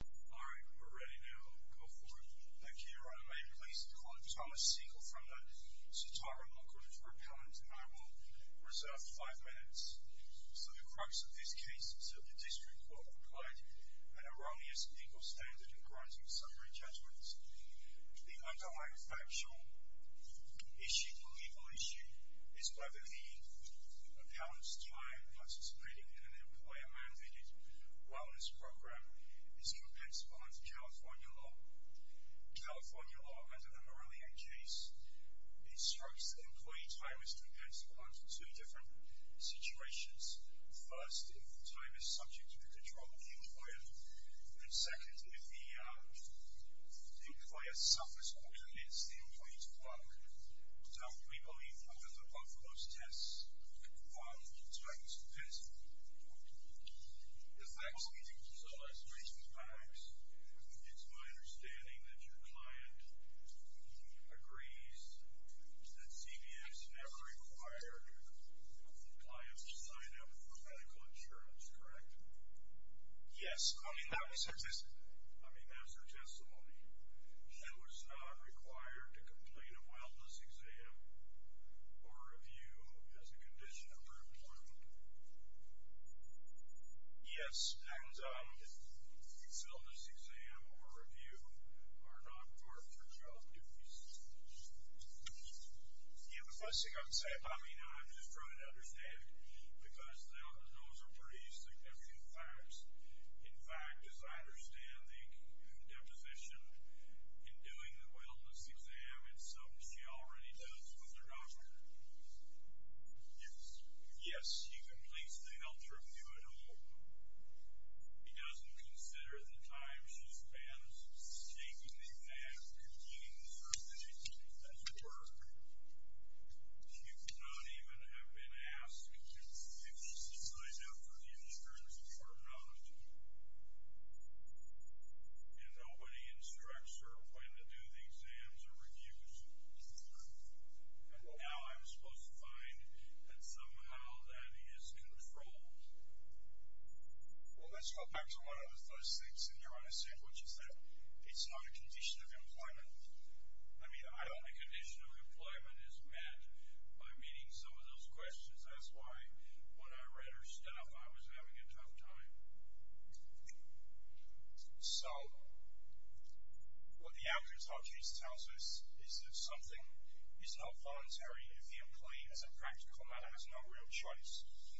Alright, we're ready now. Go for it. Thank you, Your Honor. May it please the court, Thomas Siegel from the Sitara Law Group for Appellants, and I will reserve five minutes. So the crux of this case is that the District Court applied an erroneous legal standard in granting summary judgments. The underlying factual issue, the legal issue, is that the appellant's time participating in an employer-mandated wellness program is compensable under California law. California law, under the Morelia case, instructs that employee time is compensable under two different situations. First, if the time is subject to the control of the employer. And second, if the employer suffers or commits the employee to work. Now, we believe that under both of those tests, one time is compensable. If I'm speaking for Celeste Mason-Pax, it's my understanding that your client agrees that CVS never required the client to sign up for medical insurance, correct? Yes. I mean, that was her testimony. I mean, that was her testimony. She was not required to complete a wellness exam or review as a condition of her employment. Yes, and a wellness exam or review are not part of her child's duties. Yeah, the first thing I would say, I mean, I'm just trying to understand it, because those are pretty significant facts. In fact, as I understand the deposition, in doing the wellness exam, in some she already does with her doctor. Yes. Yes, she completes the health review at home. She doesn't consider the time she spends taking the exam, completing the first edition, as it were. She could not even have been asked to sign up for the insurance, or not. And nobody instructs her when to do the exams or reviews. And now I'm supposed to find that somehow that is controlled. Well, let's go back to one of those things in there, which is that it's not a condition of employment. I mean, I don't think a condition of employment is met by meeting some of those questions. That's why when I read her stuff, I was having a tough time. So, what the Alcatraz case tells us is that something is not voluntary. The employee, as a practical matter, has no real choice.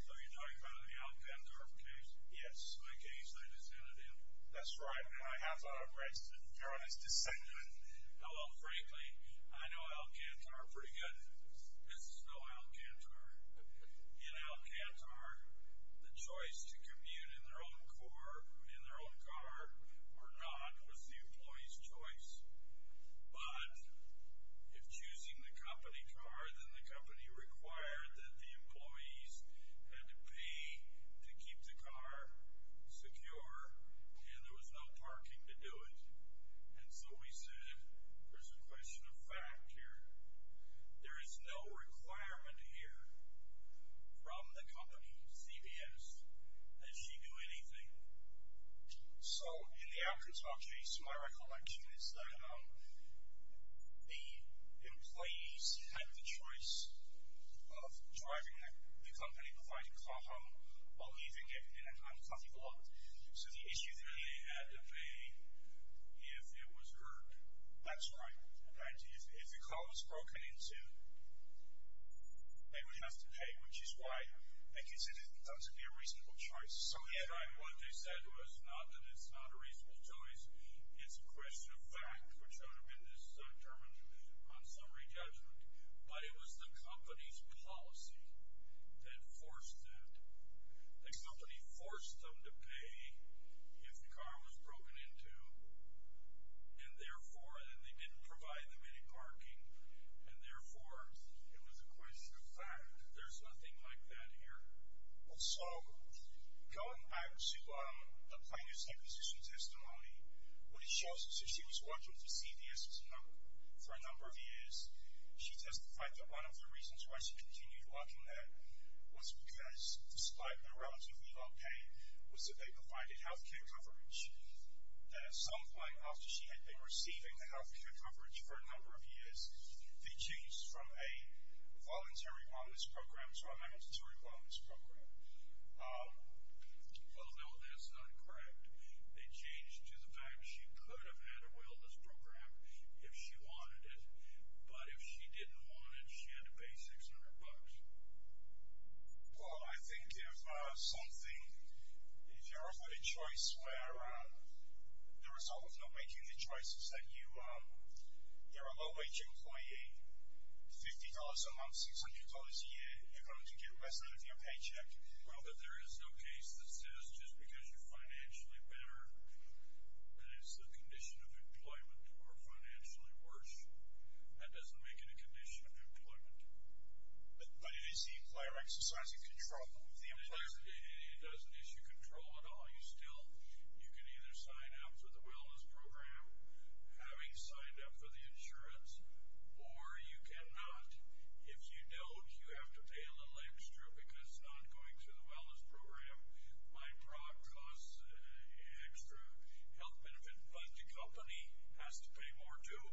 So you're talking about the Alcatraz case? Yes. The case they descended in. That's right. And I have thought I've registered in fairness to say that. Although, frankly, I know Alcantara pretty good. This is no Alcantara. In Alcantara, the choice to commute in their own car or not was the employee's choice. But if choosing the company car, then the company required that the employees had to pay to keep the car secure. And there was no parking to do it. And so we said, there's a question of fact here. There is no requirement here from the company, CBS, that you do anything. So, in the Alcatraz case, my recollection is that the employees had the choice of driving the company-provided car home or leaving it in an unclothed lot. So the issue there, they had to pay if it was hurt. That's right. If the car was broken into, they would have to pay, which is why they considered that to be a reasonable choice. So, again, what they said was not that it's not a reasonable choice. It's a question of fact, which would have been this term on summary judgment. But it was the company's policy that forced that. The company forced them to pay if the car was broken into. And therefore, they didn't provide them any parking. And therefore, it was a question of fact. There's nothing like that here. So, going back to the plaintiff's acquisition testimony, what it shows is that she was working for CBS for a number of years. She testified that one of the reasons why she continued working there was because, despite her relatively low pay, was that they provided health care coverage. At some point after she had been receiving the health care coverage for a number of years, they changed from a voluntary wellness program to a mandatory wellness program. Well, no, that's not correct. They changed to the fact that she could have had a wellness program if she wanted it. But if she didn't want it, she had to pay $600. Well, I think if something, if you're offered a choice where the result of not making the choice is that you're a low-wage employee, $50 a month, $600 a year, you're going to get less out of your paycheck. Well, but there is no case that says just because you're financially better that it's a condition of employment or financially worse. That doesn't make it a condition of employment. But is the employer exercising control of the employer? It doesn't issue control at all. You can either sign up for the wellness program, having signed up for the insurance, or you cannot. If you don't, you have to pay a little extra because not going to the wellness program might drop costs extra. Health Benefit Fund Company has to pay more, too.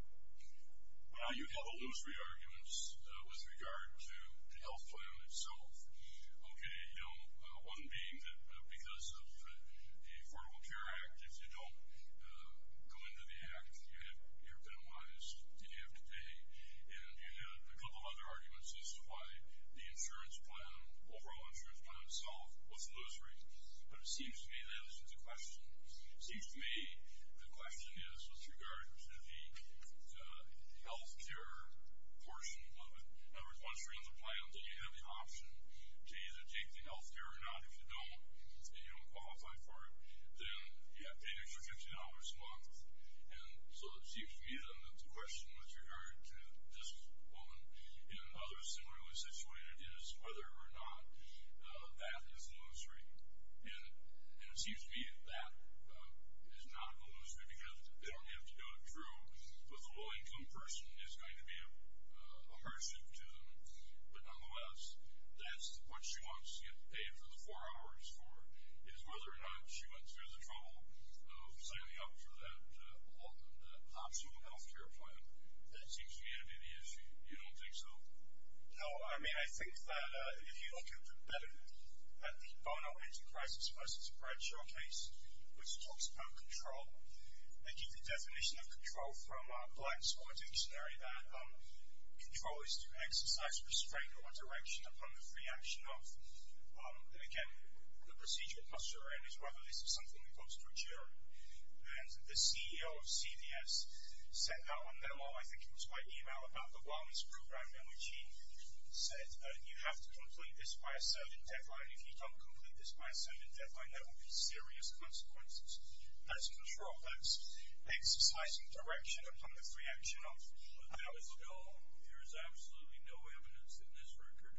You have illusory arguments with regard to the health plan itself. Okay, you know, one being that because of the Affordable Care Act, if you don't go into the Act, you're penalized. You have to pay. And you have a couple other arguments as to why the overall insurance plan itself was illusory. But it seems to me that this is a question. It seems to me the question is with regard to the health care portion of it. In other words, once you're in the plan, you have the option to either take the health care or not if you don't qualify for it. Then you have to pay an extra $15 a month. And so it seems to me that the question with regard to this woman and others similarly situated is whether or not that is illusory. And it seems to me that is not illusory because they don't have to go through with a low-income person. It's going to be a hardship to them. But nonetheless, that's what she wants to get paid for the four hours for is whether or not she went through the trouble of signing up for that optional health care plan. That seems to me to be the issue. You don't think so? No, I mean, I think that if you look a little bit better at the Bono Enterprises Versus Bread showcase, which talks about control. They give the definition of control from a black-sport dictionary that control is to exercise restraint or direction upon the free action of. And again, the procedural posture in it is whether this is something that goes through a jury. And the CEO of CVS sent out a memo, I think it was by email, about the wellness program in which he said you have to complete this by a certain deadline. If you don't complete this by a certain deadline, there will be serious consequences. That's control. That's exercising direction upon the free action of. There is absolutely no evidence in this record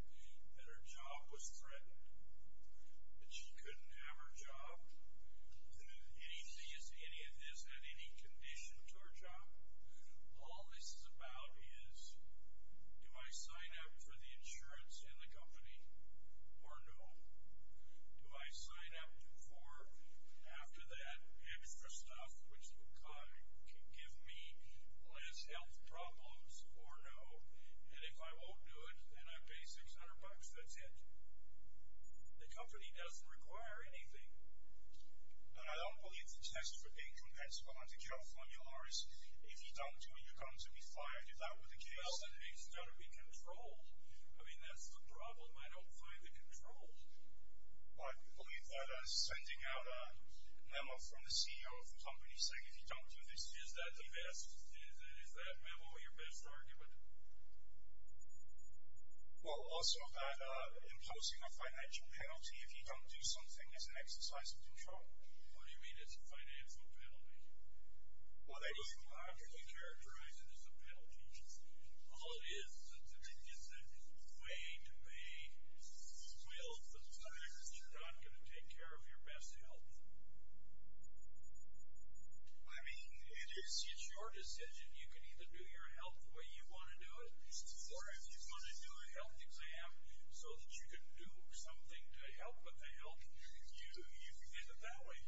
that her job was threatened. That she couldn't have her job. That any of this had any condition to her job. All this is about is do I sign up for the insurance in the company or no? Do I sign up for, after that, extra stuff which can give me less health problems or no? And if I won't do it, then I pay 600 bucks. That's it. The company doesn't require anything. But I don't believe the test for income that's going to come from yours, if you don't do it, you're going to be fired. Is that what the case is? Well, it's got to be control. I mean, that's the problem. I don't find the control. But I believe that sending out a memo from the CEO of the company saying if you don't do this, is that the best? Is that memo your best argument? Well, also that imposing a financial penalty if you don't do something is an exercise of control. What do you mean it's a financial penalty? Well, they don't logically characterize it as a penalty. All it is is a way to make, well, the fact that you're not going to take care of your best health. I mean, it's your decision. You can either do your health the way you want to do it, or if you want to do a health exam so that you can do something to help with the health, you can do it that way.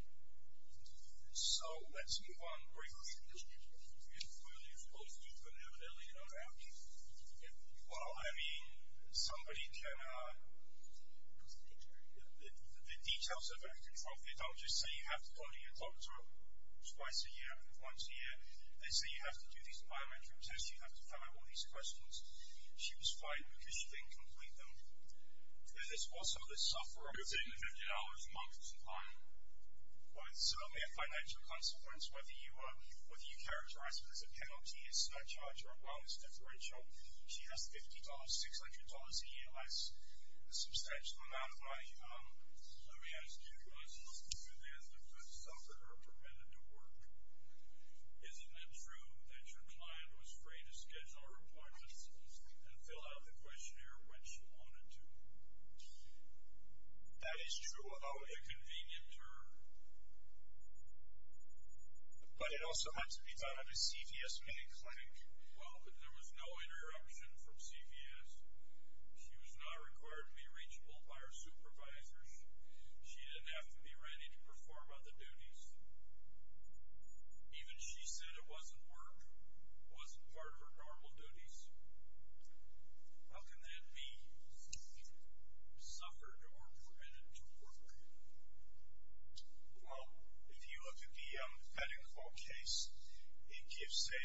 So, let's move on. Well, you've got an evidently, you don't have to. Well, I mean, somebody can, the details of it are controlled. They don't just say you have to call your doctor twice a year and once a year. They say you have to do these biometric tests, you have to fill out all these questions. She was fired because she couldn't complete them. And it's also the sufferer who's in the $50 month supply. So, it may have financial consequence whether you characterize it as a penalty, it's not charged, or, well, it's deferential. She has $50, $600 a year, that's a substantial amount of money. Let me ask you guys a little bit about the food stuff that are permitted to work. Isn't it true that your client was free to schedule her appointments and fill out the questionnaire when she wanted to? That is true of the convenient term. But it also had to be done at a CVS-made clinic. Well, but there was no interruption from CVS. She was not required to be reachable by her supervisors. She didn't have to be ready to perform other duties. Even she said it wasn't work, wasn't part of her normal duties. How can that be? Suffered or permitted to work. Well, if you look at the Peddinghall case, it gives a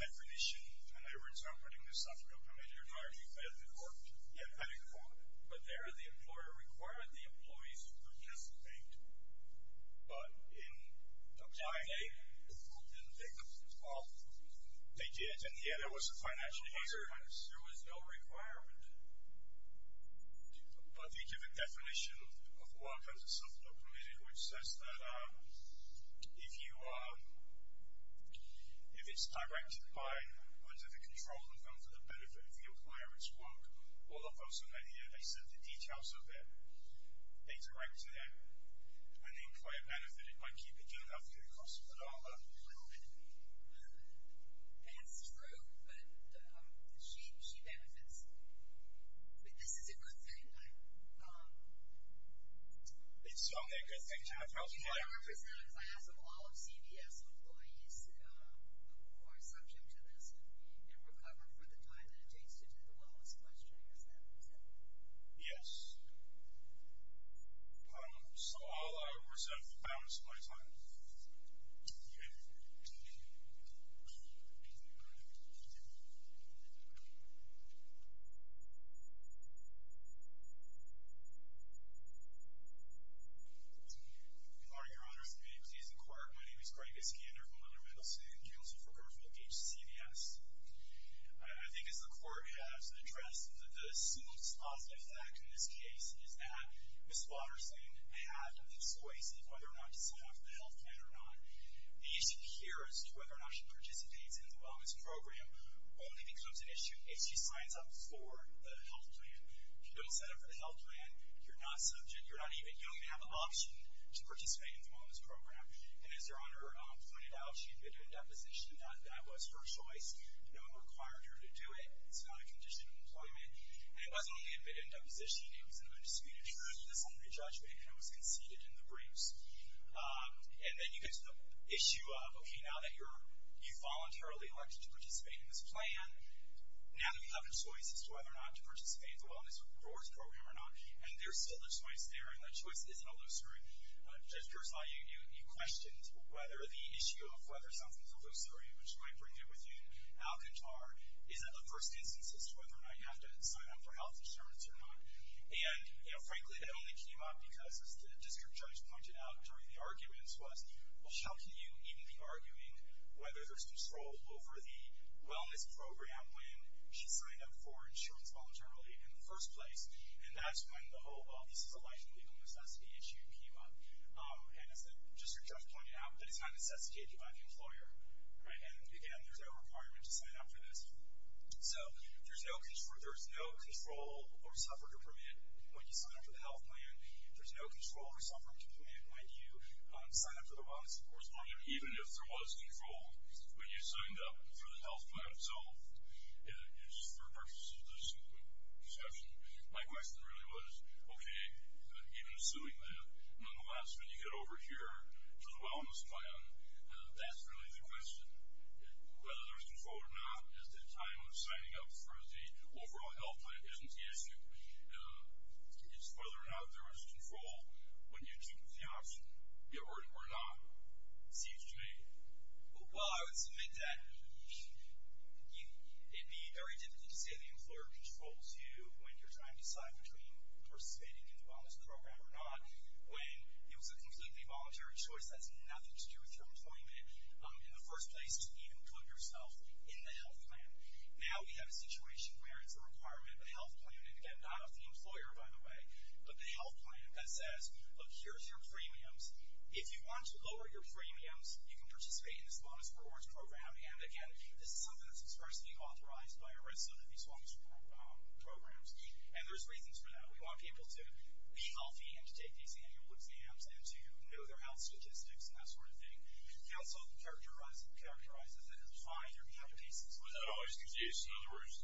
definition when they were interpreting the suffering of committed or fired. Peddinghall. But there the employer required the employees to participate. But in applying, they did, and yet there was a financial hazard. There was no requirement. But they give a definition of work as a sufferer permitted, which says that if it's directed by, under the control of them for the benefit of the employer, it's work. All of those who met here, they said the details of it. They directed it. And the employer benefited by keeping it up to the cost of the dollar. A little bit. That's true, but she benefits. But this is a good thing. It's only a good thing to have health care. I ask all of CBS employees who are subject to this and recover for the time that it takes to do the wellness questionnaire. Yes. So all hours of my time. Thank you. Good morning, Your Honor. May I please inquire? My name is Greg Iskander from the Mendelsohn Council for Government of H.C.V.S. I think as the court has addressed, the suit's positive fact in this case is that Ms. Watterson had the choice of whether or not to sign off the health care. The issue here is whether or not she participates in the wellness program only becomes an issue if she signs up for the health plan. If you don't sign up for the health plan, you're not subject, you don't even have an option to participate in the wellness program. And as Your Honor pointed out, she admitted in deposition that that was her choice. No one required her to do it. It's not a condition of employment. And it wasn't only admitted in deposition. It was an undisputed truth. This only judgment was conceded in the briefs. And then you get to the issue of, okay, now that you're voluntarily elected to participate in this plan, now that you have a choice as to whether or not to participate in the wellness program or not, and there's still a choice there, and that choice isn't illusory. Judge Piersol, you questioned whether the issue of whether something's illusory, which might bring it with you in Alcantar, isn't a first instance as to whether or not you have to sign up for health insurance or not. And frankly, that only came up because, as the district judge pointed out during the arguments, was, well, how can you even be arguing whether there's control over the wellness program when she signed up for insurance voluntarily in the first place? And that's when the whole, well, this is a life and people necessity issue came up. And as the district judge pointed out, that it's not necessitated by the employer. And again, there's no requirement to sign up for this. So, there's no control or suffering to permit when you sign up for the health plan. There's no control or suffering to permit when you sign up for the wellness and sports program. Even if there was control when you signed up for the health plan itself, it's for purposes of this simple discussion. My question really was, okay, even assuming that, nonetheless, when you get over here to the wellness plan, that's really the question. Whether there's control or not is the time of signing up for the overall health plan. Isn't the issue? It's whether or not there was control when you took the option or not. It seems to me. Well, I would submit that it'd be very difficult to say the employer controls you when you're trying to decide between participating in the wellness program or not. When it was a completely voluntary choice, that's nothing to do with your employment. In the first place, you didn't even put yourself in the health plan. Now, we have a situation where it's a requirement of the health plan, and again, not of the employer, by the way, but the health plan that says, look, here's your premiums. If you want to lower your premiums, you can participate in this bonus rewards program. And, again, this is something that's expressly authorized by a rest of these wellness programs. And there's reasons for that. We want people to be healthy and to take these annual exams and to know their health statistics and that sort of thing. And so it characterizes it in five different cases. Was that always the case? In other words,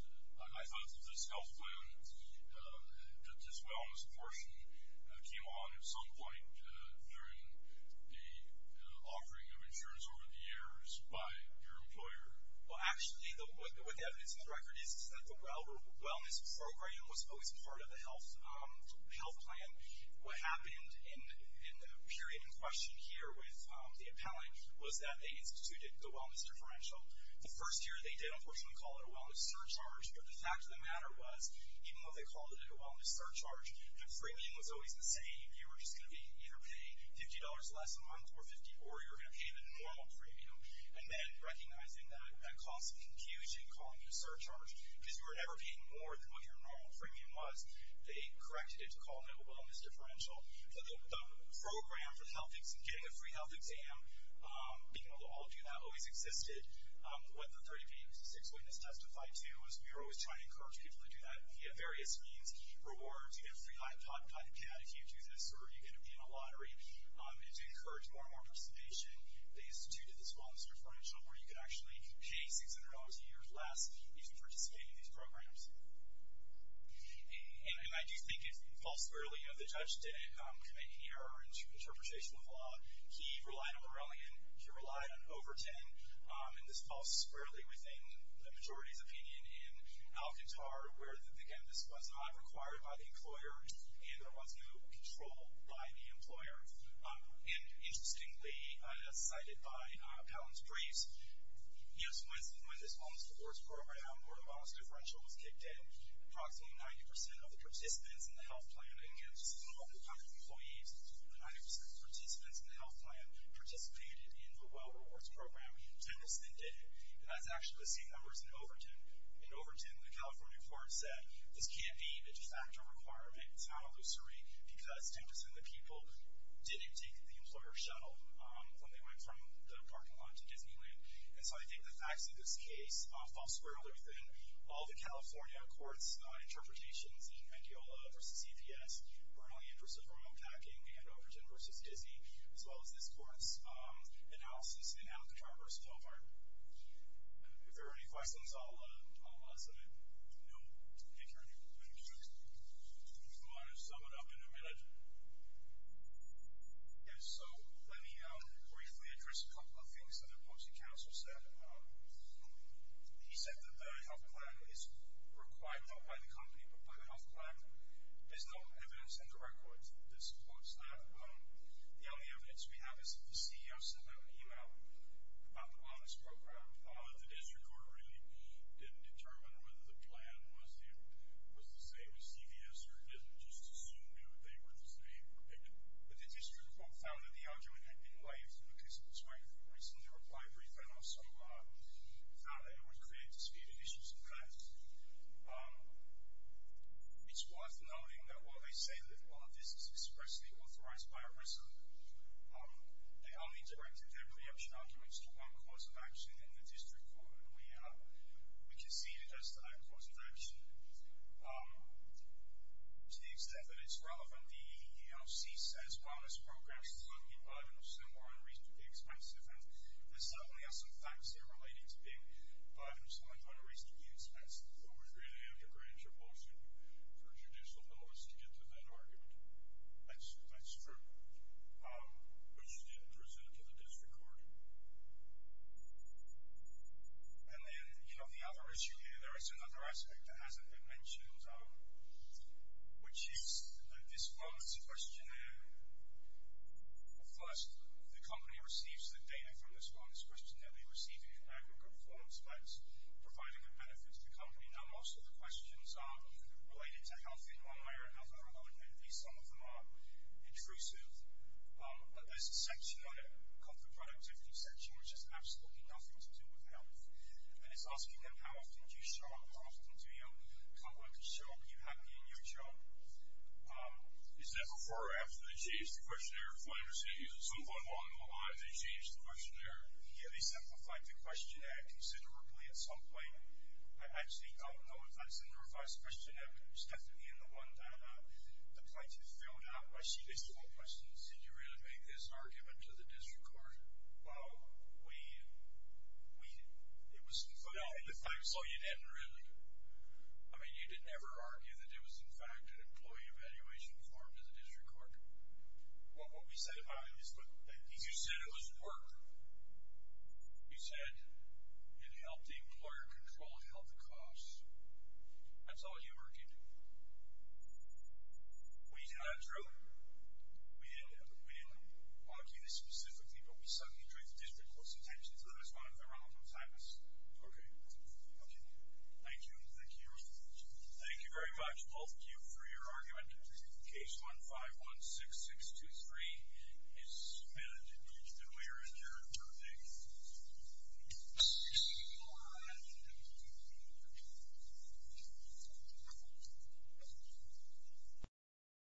I thought that this health plan, that this wellness portion came on at some point during the offering of insurance over the years by your employer. Well, actually, what the evidence in the record is, is that the wellness program was always part of the health plan. What happened in the period in question here with the appellant was that they instituted the wellness differential. The first year, they did, unfortunately, call it a wellness surcharge, but the fact of the matter was, even though they called it a wellness surcharge, that freemium was always the same. You were just going to be either paying $50 less a month or 50, or you were going to pay the normal freemium. And then, recognizing that that caused some confusion, calling it a surcharge because you were never paying more than what your normal freemium was, they corrected it to call it a wellness differential. The program for getting a free health exam, being able to all do that, always existed. What the 30 pages of 6 witness testified to was we were always trying to encourage people to do that via various means, rewards, you get a free iPod and iPad if you do this, or you get to be in a lottery, and to encourage more and more participation. They instituted this wellness differential where you could actually pay $600 a year less if you participated in these programs. And I do think it falls squarely, the judge didn't commit any error in interpretation of the law. He relied on Morellian. He relied on Overton. And this falls squarely within the majority's opinion in Alcatar, where, again, this was not required by the employer, and there was no control by the employer. And, interestingly, as cited by Palin's briefs, yes, when this wellness rewards program, where the wellness differential was kicked in, approximately 90% of the participants in the health plan, again, this is a little over 100 employees, 90% of the participants in the health plan participated in the well rewards program. 10% did it. And that's actually the same number as in Overton. In Overton, the California court said, this can't be a de facto requirement, it's not illusory, because 10% of the people didn't take the employer shuttle when they went from the parking lot to Disneyland. So, again, the facts of this case fall squarely within all the California court's interpretations, in Condeola v. CPS, early interest of remote packing, and Overton v. Disney, as well as this court's analysis in Alcatar v. Walmart. If there are any questions, I'll let them know. Thank you. If you want to sum it up in a minute. So, let me briefly address a couple of things that the Boxing Council said. He said that the health plan is required not by the company, but by the health plan. There's no evidence in the records. This quotes that the only evidence we have is that the CEO sent out an email about the wellness program. The district court really didn't determine whether the plan was the same as CPS, or didn't just assume that they were the same. But the district court found that the argument had been waived, because it was very recently replied briefly, and also found that it would create disputed issues in class. It's worth noting that while they say that all of this is expressly authorized by a resident, they only directed their preemption arguments to one cause of action in the district court, and we conceded as that cause of action. To the extent that it's relevant, the EEOC says wellness programs are simply by-products and are unreasonably expensive, and there certainly are some facts there relating to being by-products and are unreasonably expensive. But we really have to grant your policy for judicial notice to get to that argument. That's true. But you didn't present it to the district court. And then, you know, the other issue here, there is another aspect that hasn't been mentioned, which is that this wellness questionnaire first, the company receives the data from this wellness questionnaire. They receive it in aggregate form, so that's providing a benefit to the company. Now, most of the questions are related to health, in one way or another, and maybe some of them are intrusive, but there's a section on it called the productivity section, which has absolutely nothing to do with health, and it's asking them, how often do you show up, how often do your coworkers show up? Do you have me in your job? Do they change the questionnaire if one receives it some point along the way? Do they change the questionnaire? Yeah, they simplified the questionnaire considerably at some point. I actually don't know if that's in the revised questionnaire, but it was definitely in the one that the plaintiff filled out. I see a couple of questions. Did you really make this argument to the district court? Well, we, we, it was concluded in the facts. Oh, you didn't really? Well, what we said about it is, but you said it was at work. You said, it helped the employer control the health costs. That's all you're working to. We did not approve. We didn't, we didn't argue this specifically, but we suddenly drew the district court's attention to that as one of the Ronald O. Thomas. Okay. Okay. Thank you, thank you very much. Thank you very much, both of you, for your argument. Case 1516623 is submitted. And we are adjourned for today. Thank you.